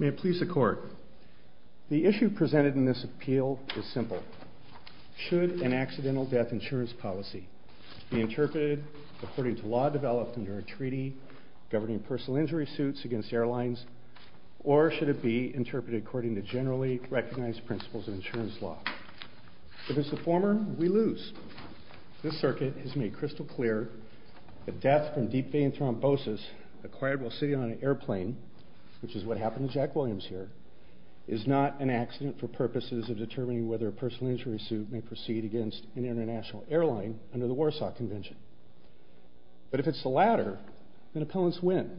May it please the court, the issue presented in this appeal is simple, should an accidental death insurance policy be interpreted according to law developed under a treaty governing personal injury suits against airlines or should it be interpreted according to generally recognized principles of insurance law? If it's a former, we lose. This circuit has made crystal clear that death from deep vein thrombosis acquired while sitting on an airplane, which is what happened to Jack Williams here, is not an accident for purposes of determining whether a personal injury suit may proceed against an international airline under the Warsaw Convention. But if it's the latter, then opponents win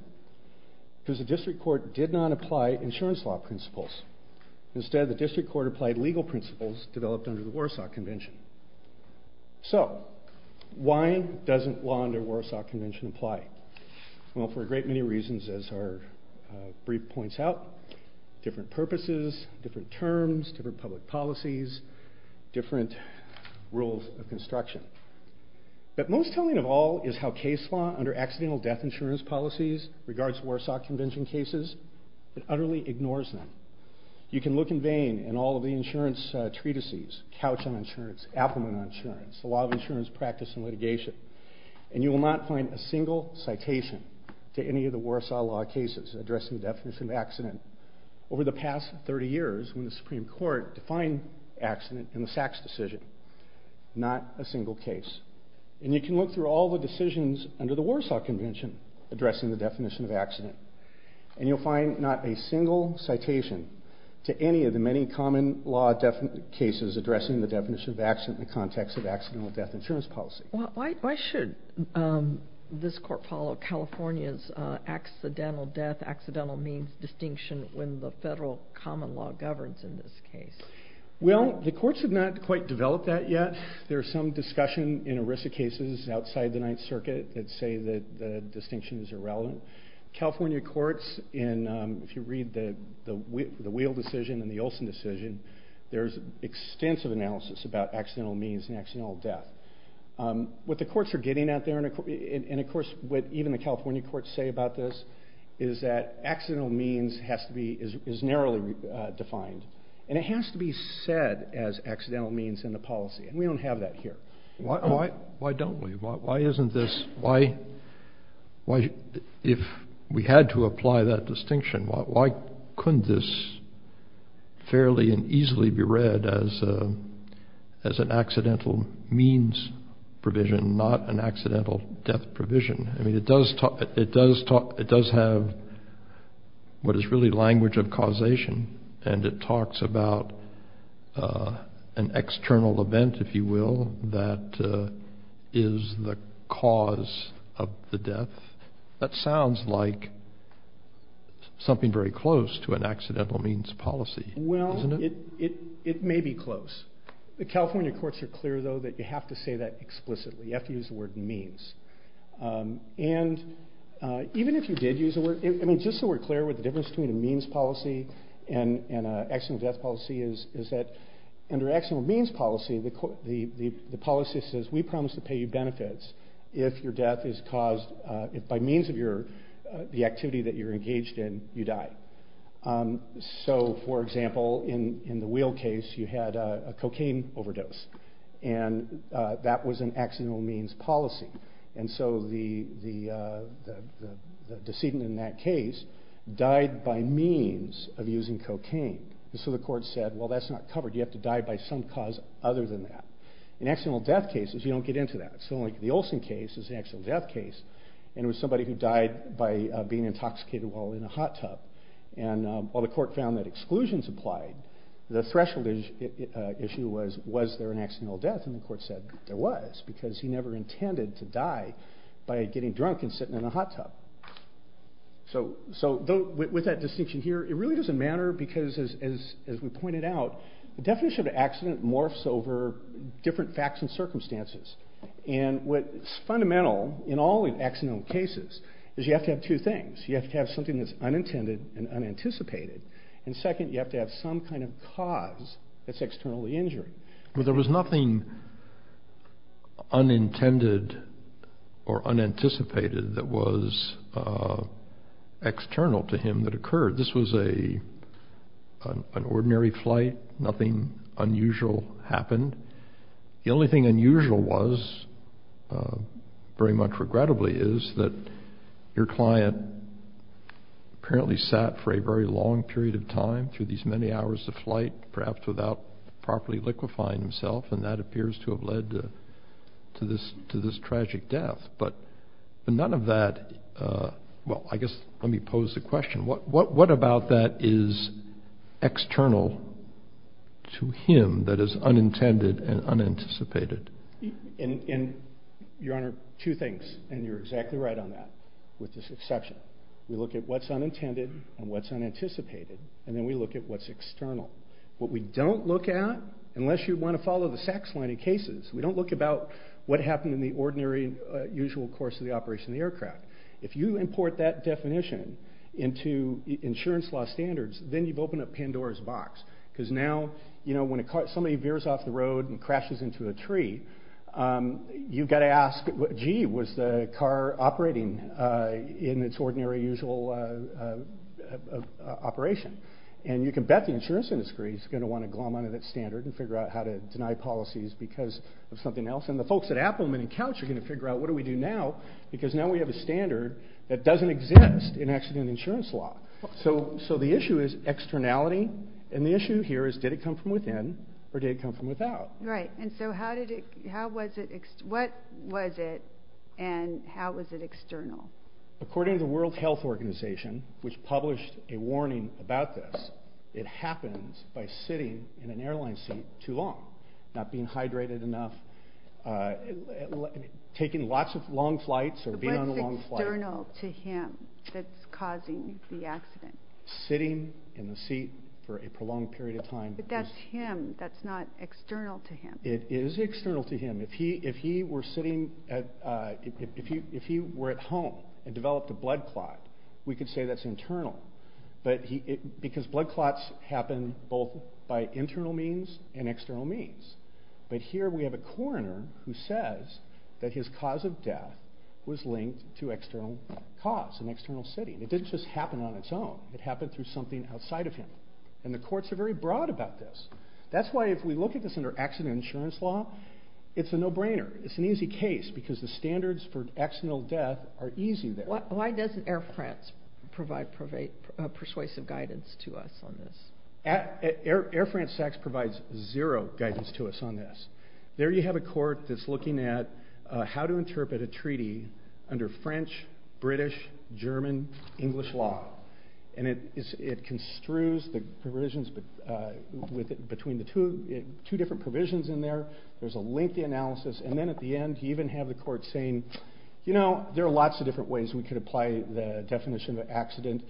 because the district court did not apply insurance law principles, instead the district court applied legal principles developed under the Warsaw Convention. So why doesn't law under the Warsaw Convention apply? Well for a great many reasons as our brief points out, different purposes, different terms, different public policies, different rules of construction. But most telling of all is how case law under accidental death insurance policies regards Warsaw Convention cases, it utterly ignores them. You can look in vain in all of the insurance treatises, Couch on Insurance, Appleman on Insurance, the Law of Insurance Practice and Litigation and you will not find a single citation to any of the Warsaw Law cases addressing the definition of accident over the past 30 years when the Supreme Court defined accident in not a single case. And you can look through all the decisions under the Warsaw Convention addressing the definition of accident and you'll find not a single citation to any of the many common law cases addressing the definition of accident in the context of accidental death insurance policy. Why should this court follow California's accidental death, accidental means distinction when the federal common law governs in this case? Well the courts have not quite developed that yet. There's some discussion in ERISA cases outside the Ninth Circuit that say that the distinction is irrelevant. California courts in, if you read the Wheel decision and the Olson decision, there's extensive analysis about accidental means and accidental death. What the courts are getting at there and of course what even the California courts say about this is that accidental means has to be, is narrowly defined and it has to be said as accidental means in the policy and we don't have that here. Why don't we? Why isn't this, why, if we had to apply that distinction, why couldn't this fairly and easily be read as an accidental means provision, not an accidental death provision? I mean it does talk, it does talk, it does have what is really language of causation and it talks about an external event, if you will, that is the cause of the death. That sounds like something very close to an accidental means policy, isn't it? Well, it may be close. The California courts are clear though that you have to say that explicitly. You have to use the word means. And even if you did use the word, I mean just so we're clear with the difference between a means policy and an accidental death policy is that under accidental means policy, the policy says we promise to pay you benefits if your death is caused by means of your, the activity that you're engaged in, you die. So for example in the Wheel case you had a cocaine overdose and that was an accidental means policy. And so the decedent in that case died by means of using cocaine. So the court said, well that's not covered, you have to die by some cause other than that. In accidental death cases you don't get into that. So like the Olson case is an accidental death case and it was somebody who died by being intoxicated while in a hot tub. And while the court found that exclusions applied, the threshold issue was, was there an accidental death? And the court said there was because he never intended to die by getting drunk and sitting in a hot tub. So with that distinction here, it really doesn't matter because as we pointed out, the definition of an accident morphs over different facts and circumstances. And what's fundamental in all accidental cases is you have to have two things. You have to have something that's unintended and unanticipated. And second, you have to have some kind of cause that's externally injured. Well there was nothing unintended or unanticipated that was external to him that occurred. This was an ordinary flight, nothing unusual happened. The only thing unusual was, very much regrettably, is that your client had apparently sat for a very long period of time through these many hours of flight, perhaps without properly liquefying himself, and that appears to have led to this tragic death. But none of that, well I guess let me pose the question, what about that is external to him that is unintended and unanticipated? And your honor, two things, and you're exactly right on that, with this exception. We look at what's unintended and what's unanticipated, and then we look at what's external. What we don't look at, unless you want to follow the SACS line of cases, we don't look at what happened in the ordinary, usual course of the operation of the aircraft. If you import that definition into insurance law standards, then you've opened up Pandora's box. Because now, you know, when somebody veers off the road and crashes into a tree, you've got to ask, gee, was the car operating in its ordinary, usual operation? And you can bet the insurance industry is going to want to glom onto that standard and figure out how to deny policies because of something else. And the folks at Appleman and Couch are going to figure out, what do we do now? Because now we have a standard that doesn't exist in accident insurance law. So the issue is externality, and the issue here is, did it come within or did it come from without? Right, and so how did it, how was it, what was it and how was it external? According to the World Health Organization, which published a warning about this, it happens by sitting in an airline seat too long, not being hydrated enough, taking lots of long flights or being on a long flight. What's external to him that's causing the accident? Sitting in the seat for a prolonged period of time. But that's him, that's not external to him. It is external to him. If he were sitting at, if he were at home and developed a blood clot, we could say that's internal. But he, because blood clots happen both by internal means and external means. But here we have a coroner who says that his cause of death was linked to external cause, an external setting. It didn't just happen on its own, it happened through something outside of him. And the courts are very broad about this. That's why if we look at this under accident insurance law, it's a no-brainer. It's an easy case because the standards for accidental death are easy there. Why doesn't Air France provide persuasive guidance to us on this? Air France actually provides zero guidance to us on this. There you have a court that's looking at how to interpret a treaty under French, British, German, English law. And it construes the provisions between the two, two different provisions in there. There's a lengthy analysis. And then at the end, you even have the court saying, you know, there are lots of different ways we could apply the definition of accident.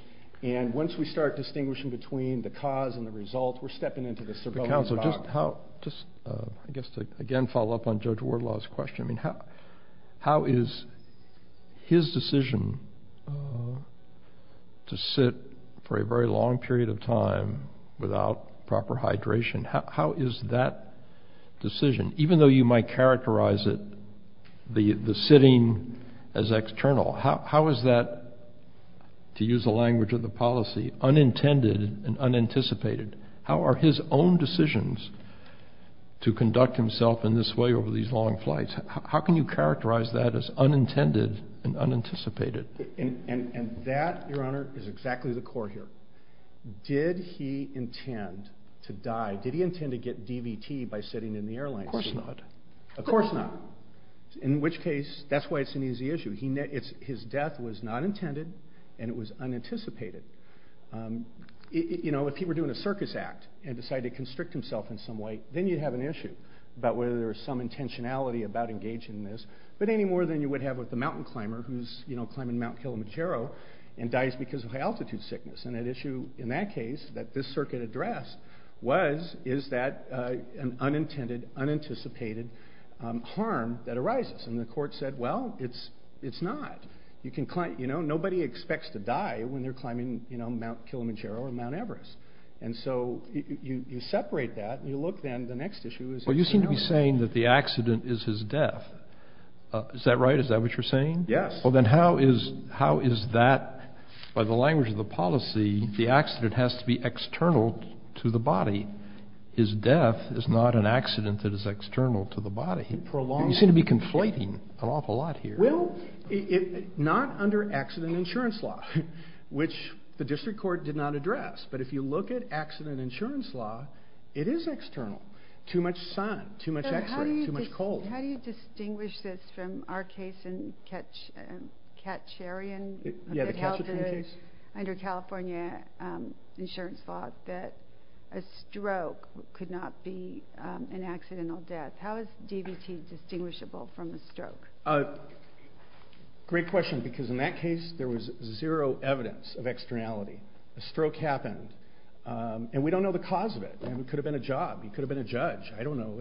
And once we start distinguishing between the cause and the result, we're stepping into the surveillance box. Just, I guess, to again follow up on Judge Wardlaw's question, I mean, how is his decision to sit for a very long period of time without proper hydration, how is that decision, even though you might characterize it, the sitting as external, how is that, to use the language of the policy, unintended and unanticipated? How are his own decisions to conduct himself in this way over these long flights? How can you characterize that as unintended and unanticipated? And that, Your Honor, is exactly the core here. Did he intend to die? Did he intend to get DVT by sitting in the airline seat? Of course not. Of course not. In which case, that's why it's an easy issue. His death was not intended and it was unanticipated. You know, if he were doing a circus act and decided to constrict himself in some way, then you'd have an issue about whether there's some intentionality about engaging in this, but any more than you would have with the mountain climber who's, you know, climbing Mount Kilimanjaro and dies because of high altitude sickness. And that issue, in that case, that this circuit addressed was, is that an unintended, unanticipated harm that arises? And the court said, well, it's not. You can climb, you know, nobody expects to die when they're climbing, you know, Mount Kilimanjaro or Mount Everest. And so you separate that and you look then, the next issue is- Well, you seem to be saying that the accident is his death. Is that right? Is that what you're saying? Yes. Well, then how is that, by the language of policy, the accident has to be external to the body. His death is not an accident that is external to the body. You seem to be conflating an awful lot here. Well, not under accident insurance law, which the district court did not address. But if you look at accident insurance law, it is external. Too much sun, too much x-ray, too much cold. How do you distinguish this from our case in Katcharian, under California insurance law, that a stroke could not be an accidental death? How is DVT distinguishable from a stroke? Great question, because in that case, there was zero evidence of externality. A stroke happened, and we don't know the cause of it. It could have been a job. It could have been a judge. I don't know.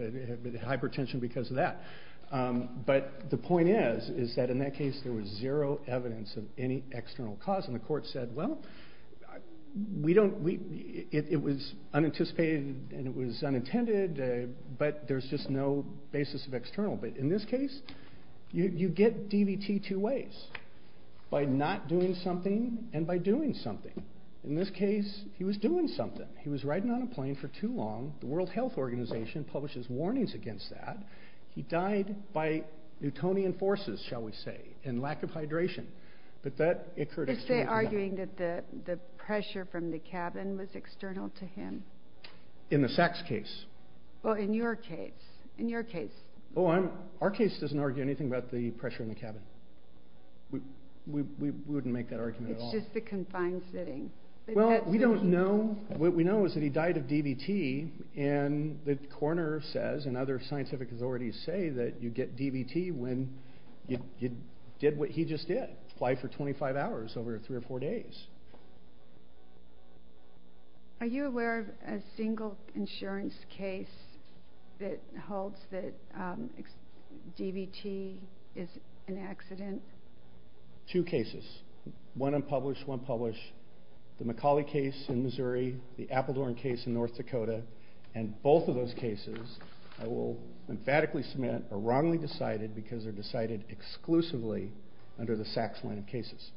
But the point is that in that case, there was zero evidence of any external cause. And the court said, well, it was unanticipated, and it was unintended, but there's just no basis of external. But in this case, you get DVT two ways, by not doing something and by doing something. In this case, he was doing something. He was riding on a plane for too long. The World Health Organization publishes warnings against that. He died by Newtonian forces, shall we say, and lack of hydration. But that occurred. Is there arguing that the pressure from the cabin was external to him? In the Sachs case? Well, in your case. In your case. Oh, our case doesn't argue anything about the pressure in the cabin. We wouldn't make that argument at all. It's just confined sitting. Well, we don't know. What we know is that he died of DVT, and the coroner says, and other scientific authorities say, that you get DVT when you did what he just did, fly for 25 hours over three or four days. Are you aware of a single insurance case that holds that DVT is an accident? Two cases. One unpublished, one published. The McAuley case in Missouri, the Appledorn case in North Dakota, and both of those cases, I will emphatically submit, are wrongly decided because they're decided exclusively under the Sachs line of cases.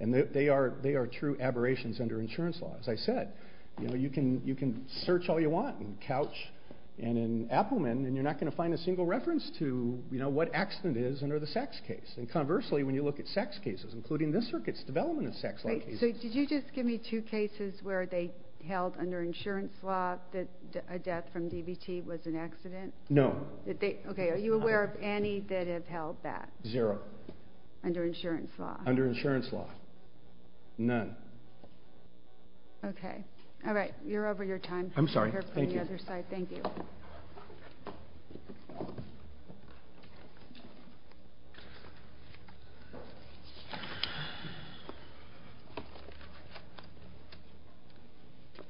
And they are true aberrations under insurance law. As I said, you know, you can search all you want in Couch and in Appleman, and you're not going to find a single reference to, you know, what accident is under the Sachs case. And conversely, when you look at Sachs cases, including this circuit's development of Sachs line cases. So did you just give me two cases where they held under insurance law that a death from DVT was an accident? No. Okay, are you aware of any that have held that? Zero. Under insurance law? Under insurance law, none. Okay, all right, you're over your time. I'm sorry, thank you.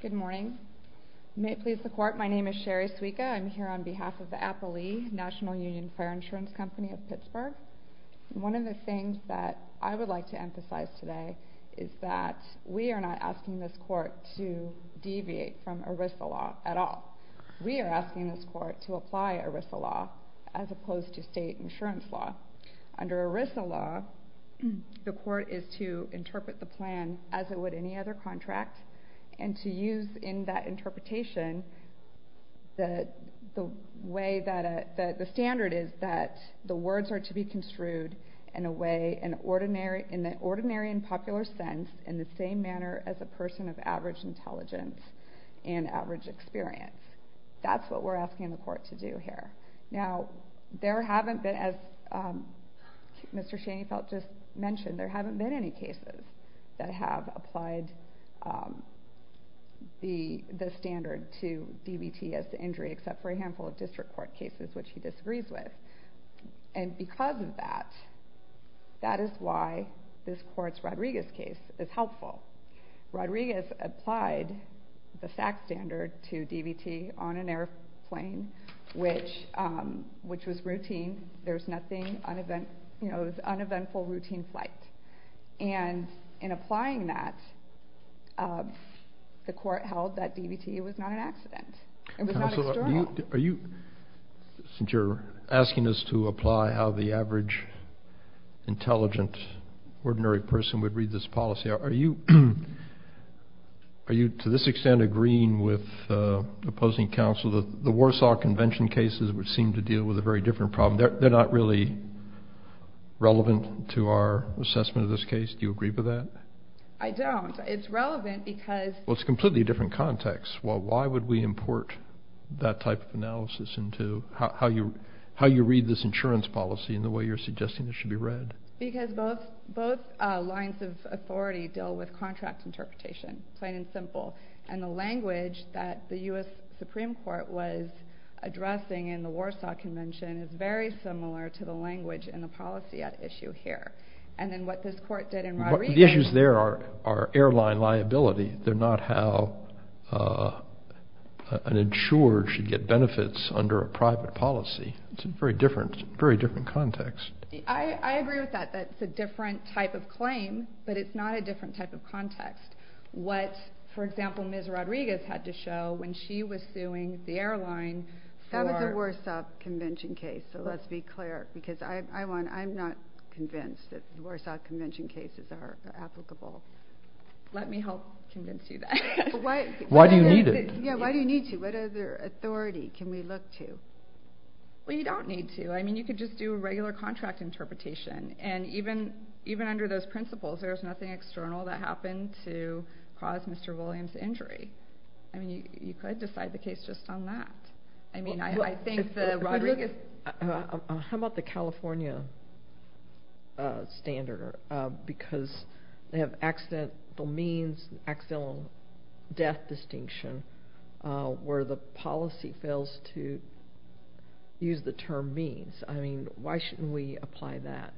Good morning. May it please the court, my name is Sherry Suica. I'm here on behalf of the Applee National Union Fire Insurance Company of Pittsburgh. One of the things that I would like to emphasize today is that we are not asking this court to deviate from ERISA law at all. We are asking this court to apply ERISA law as opposed to state insurance law. Under ERISA law, the court is to interpret the plan as it would any other contract, and to use in that interpretation that the way that the standard is that the words are to be construed in a way an ordinary, in the ordinary and popular sense, in the same manner as a person of average intelligence and average experience. That's what we're asking the court to do here. Now, there haven't been, as Mr. Schoenfeld just mentioned, there haven't been any cases that have applied the standard to DVT as the injury, except for a handful of district court cases which he disagrees with. And because of that, that is why this court's Rodriguez case is helpful. Rodriguez applied the FAC standard to DVT on an airplane, which was routine. There's nothing, you know, it was uneventful routine flight. And in applying that, the court held that DVT was not an accident. Counsel, are you, since you're asking us to apply how the average intelligent ordinary person would read this policy, are you, are you to this extent agreeing with opposing counsel that the Warsaw Convention cases would seem to deal with a very different problem? They're not really relevant to our assessment of this case. Do you agree with that? I don't. It's relevant because... Well, it's a completely different context. Well, why would we import that type of analysis into how you read this insurance policy and the way you're suggesting this should be read? Because both lines of authority deal with contract interpretation, plain and simple. And the language that the U.S. Supreme Court was addressing in the Warsaw Convention is very similar to the language and the policy at issue here. And then what this court did in Rodriguez... The issues there are airline liability. They're not how an insurer should get benefits under a private policy. It's a very different, very different context. I agree with that. That's a different type of claim, but it's not a different type of context. What, for example, Ms. Rodriguez had to show when she was suing the airline for... That was the Warsaw Convention case. So let's be clear because I'm not convinced that the Warsaw Convention cases are applicable. Let me help convince you that. Why do you need it? Yeah, why do you need to? What other authority can we look to? Well, you don't need to. I mean, you could just do a regular contract interpretation. And even under those principles, there's nothing external that happened to cause Mr. Williams' injury. I mean, you could decide the case just on that. I mean, I think that Rodriguez... How about the California standard? Because they have accidental means, accidental death distinction, where the policy fails to use the term means. I mean, why shouldn't we apply that?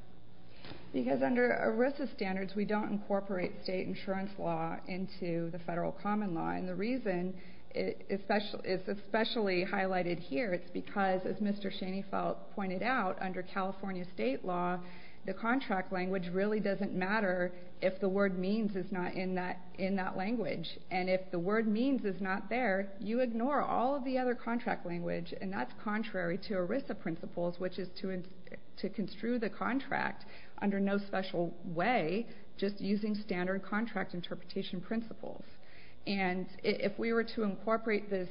Because under ERISA standards, we don't incorporate state insurance law into the federal common law. And the reason it's especially highlighted here is because, as Mr. Schoenfeld pointed out, under California state law, the contract language really doesn't matter if the word means is not in that language. And if the word means is not there, you ignore all of the other contract language. And that's contrary to ERISA principles, which is to construe the contract under no special way, just using standard contract interpretation principles. And if we were to incorporate this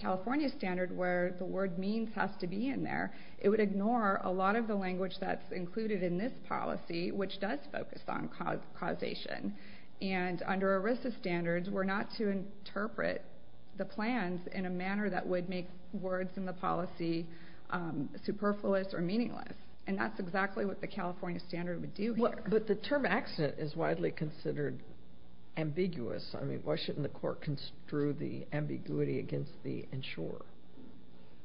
California standard where the word means has to be in there, it would ignore a lot of the language that's included in this policy, which does focus on causation. And under ERISA standards, we're not to interpret the plans in a manner that would make words in the policy superfluous or meaningless. And that's exactly what the California standard would do here. But the term accident is widely considered ambiguous. I mean, why shouldn't the court construe the ambiguity against the insurer?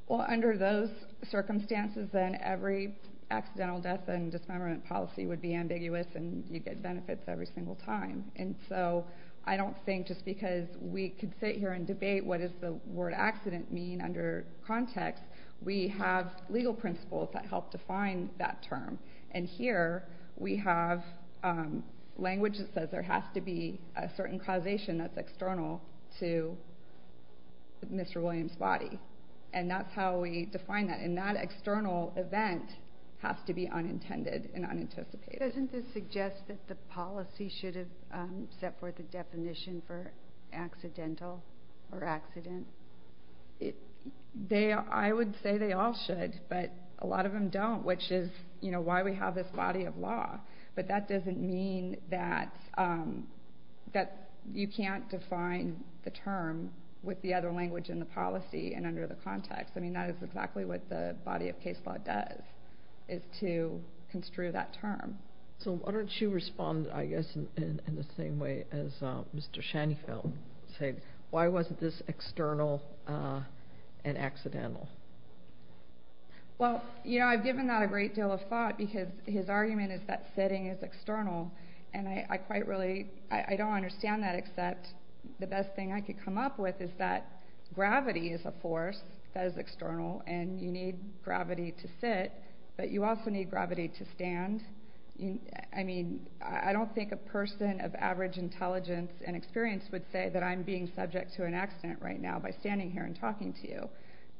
Well, under those circumstances, then every accidental death and dismemberment policy would be ambiguous, and you'd get benefits every single time. And so I don't think, just because we could sit here and debate what does the word accident mean under context, we have legal principles that help define that term. And here, we have language that says there has to be a certain causation that's external to Mr. Williams' body. And that's how we define that. And that external event has to be unintended and unanticipated. Doesn't this suggest that the policy should have set forth a definition for it? I would say they all should, but a lot of them don't, which is why we have this body of law. But that doesn't mean that you can't define the term with the other language in the policy and under the context. I mean, that is exactly what the body of case law does, is to construe that term. So why don't you respond, I guess, in the same way as Mr. Shanifel said? Why wasn't this external and accidental? Well, you know, I've given that a great deal of thought, because his argument is that sitting is external. And I quite really, I don't understand that, except the best thing I could come up with is that gravity is a force that is external, and you need gravity to sit, but you also need gravity to stand. I mean, I don't think a person of average intelligence and experience would say that I'm being subject to an accident right now by standing here and talking to you,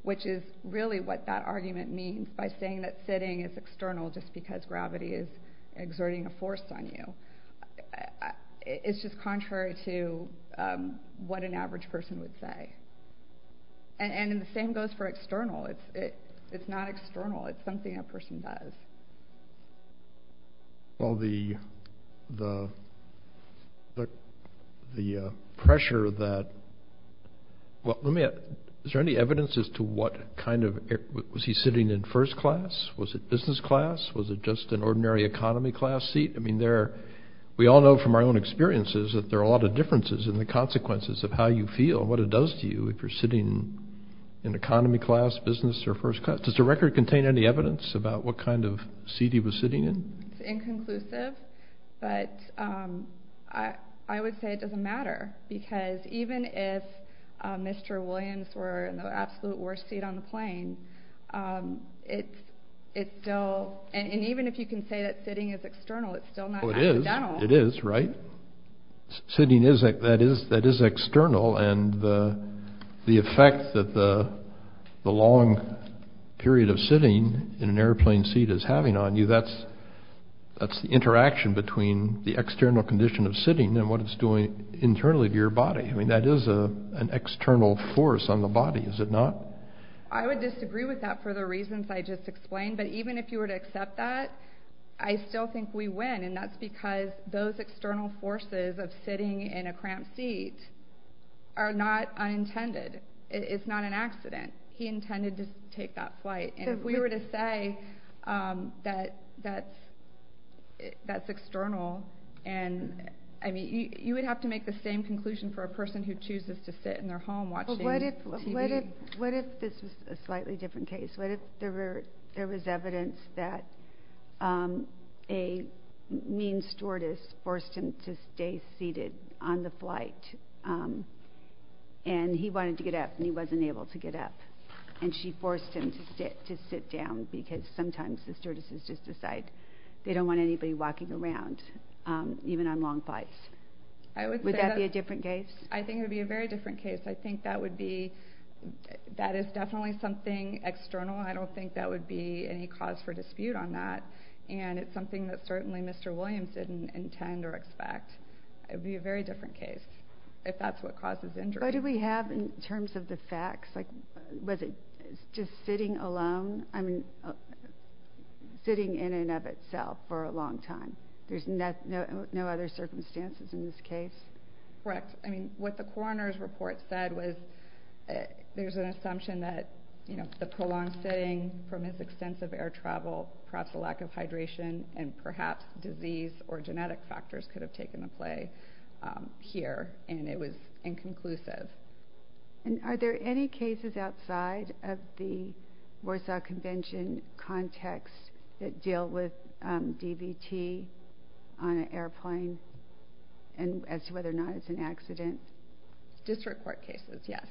which is really what that argument means, by saying that sitting is external just because gravity is exerting a force on you. It's just contrary to what an average person would say. And the same goes for external. It's not external. It's something a person does. Well, the pressure that, well, let me ask, is there any evidence as to what kind of, was he sitting in first class? Was it business class? Was it just an ordinary economy class seat? I mean, we all know from our own experiences that there are a lot of differences in the sitting in economy class, business, or first class. Does the record contain any evidence about what kind of seat he was sitting in? It's inconclusive, but I would say it doesn't matter, because even if Mr. Williams were in the absolute worst seat on the plane, and even if you can say that sitting is external, it's still not accidental. It is, right? Sitting, that is external, and the effect that the long period of sitting in an airplane seat is having on you, that's the interaction between the external condition of sitting and what it's doing internally to your body. I mean, that is an external force on the body, is it not? I would disagree with that for the reasons I just explained, but even if you were to accept that, I still think we win, and that's because those external forces of sitting in a cramped seat are not unintended. It's not an accident. He intended to take that flight, and if we were to say that that's external, and I mean, you would have to make the same conclusion for a person who chooses to sit in their home watching TV. What if this was a slightly different case? What if there was evidence that a mean stewardess forced him to stay seated on the flight, and he wanted to get up, and he wasn't able to get up, and she forced him to sit down, because sometimes the stewardesses just decide they don't want anybody walking around, even on long flights. Would that be a different case? I think it would be a very different case. I think that is definitely something external, and I don't think that would be any cause for dispute on that, and it's something that certainly Mr. Williams didn't intend or expect. It would be a very different case, if that's what causes injury. What do we have in terms of the facts? Like, was it just sitting alone? I mean, sitting in and of itself for a long time. There's no other circumstances in this case? Correct. I mean, what the coroner's report said was there's an assumption that the prolonged sitting from his extensive air travel, perhaps a lack of hydration, and perhaps disease or genetic factors could have taken a play here, and it was inconclusive. And are there any cases outside of the Warsaw Convention context that deal with DVT on an airplane, and as to whether or not it's an accident? District court cases, yes.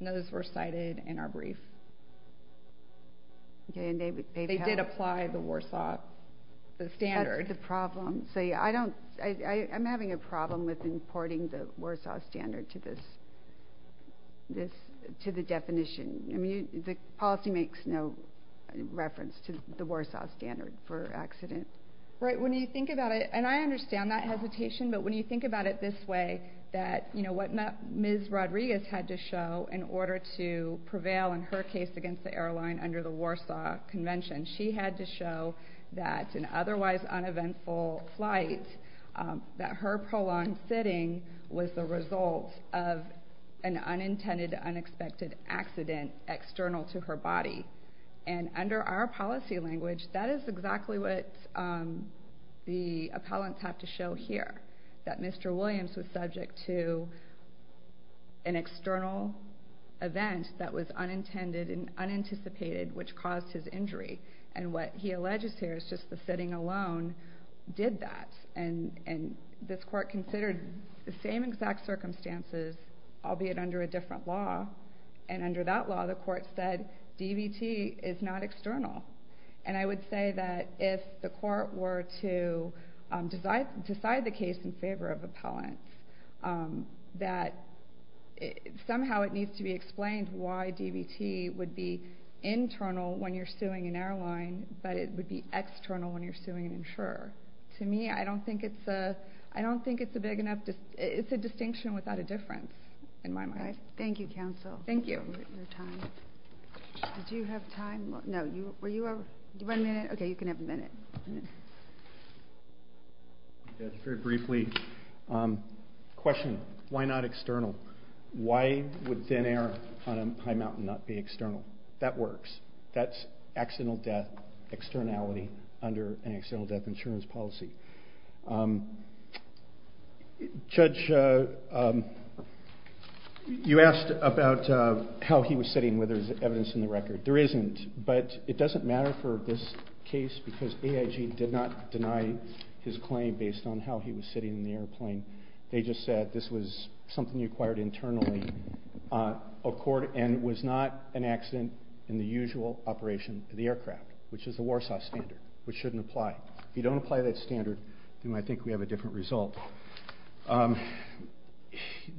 Those were cited in our brief. Okay, and they did apply the Warsaw standard. That's the problem. I'm having a problem with the definition. I mean, the policy makes no reference to the Warsaw standard for accident. Right. When you think about it, and I understand that hesitation, but when you think about it this way, that, you know, what Ms. Rodriguez had to show in order to prevail in her case against the airline under the Warsaw Convention, she had to show that an otherwise uneventful flight, that her prolonged sitting was the result of an unintended, unexpected accident external to her body. And under our policy language, that is exactly what the appellants have to show here, that Mr. Williams was subject to an external event that was unintended and unanticipated, which caused his injury. And what he alleges here is just the sitting alone did that. And this court considered the same exact circumstances, albeit under a different law. And under that law, the court said DVT is not external. And I would say that if the court were to decide the case in favor of appellants, that somehow it needs to be explained why DVT would be internal when you're suing an airline, but it would be external when you're suing an insurer. To me, I don't think it's a big enough, it's a distinction without a difference in my mind. Thank you, counsel. Thank you. Did you have time? No, were you, one minute? Okay, you can have a minute. Very briefly, question, why not external? Why would thin air on a high mountain not be external? That works. That's accidental death externality under an accidental death insurance policy. Judge, you asked about how he was sitting, whether there's evidence in the record. There isn't, but it doesn't matter for this case because AIG did not deny his claim based on how he was sitting in the airplane. They just said this was something you acquired internally and it was not an accident in the usual operation of the aircraft, which is the Warsaw standard, which shouldn't apply. If you don't apply that standard, then I think we have a different result.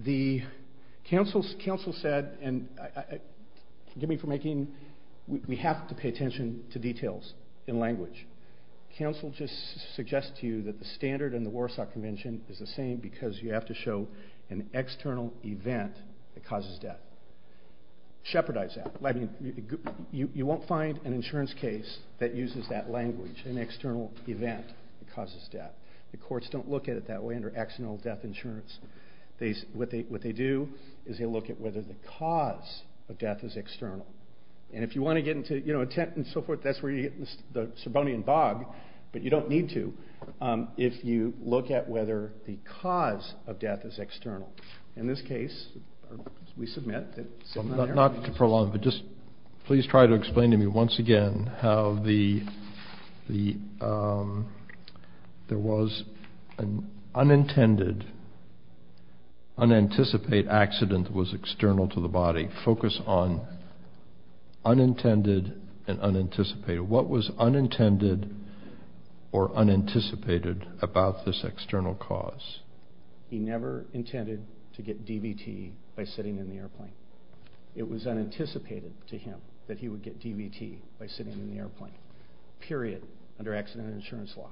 The counsel said, and forgive me for making, we have to pay attention to details in language. Counsel just suggests to you that the standard in the Warsaw Convention is the same because you have to show an external event that causes death. Shepherdize that. You won't find an insurance case that uses that language, an external event that causes death. The courts don't look at it that way under accidental death insurance. What they do is they look at whether the cause of death is external. If you want to get into a tent and so forth, that's where you get the cause of death is external. In this case, we submit. Not to prolong, but just please try to explain to me once again how there was an unintended, unanticipated accident that was external to the body. Focus on unintended and unanticipated. What was unintended or unanticipated about this external cause? He never intended to get DVT by sitting in the airplane. It was unanticipated to him that he would get DVT by sitting in the airplane, period, under accident insurance law.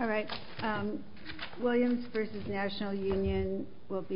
All right. Williams v. National Union will be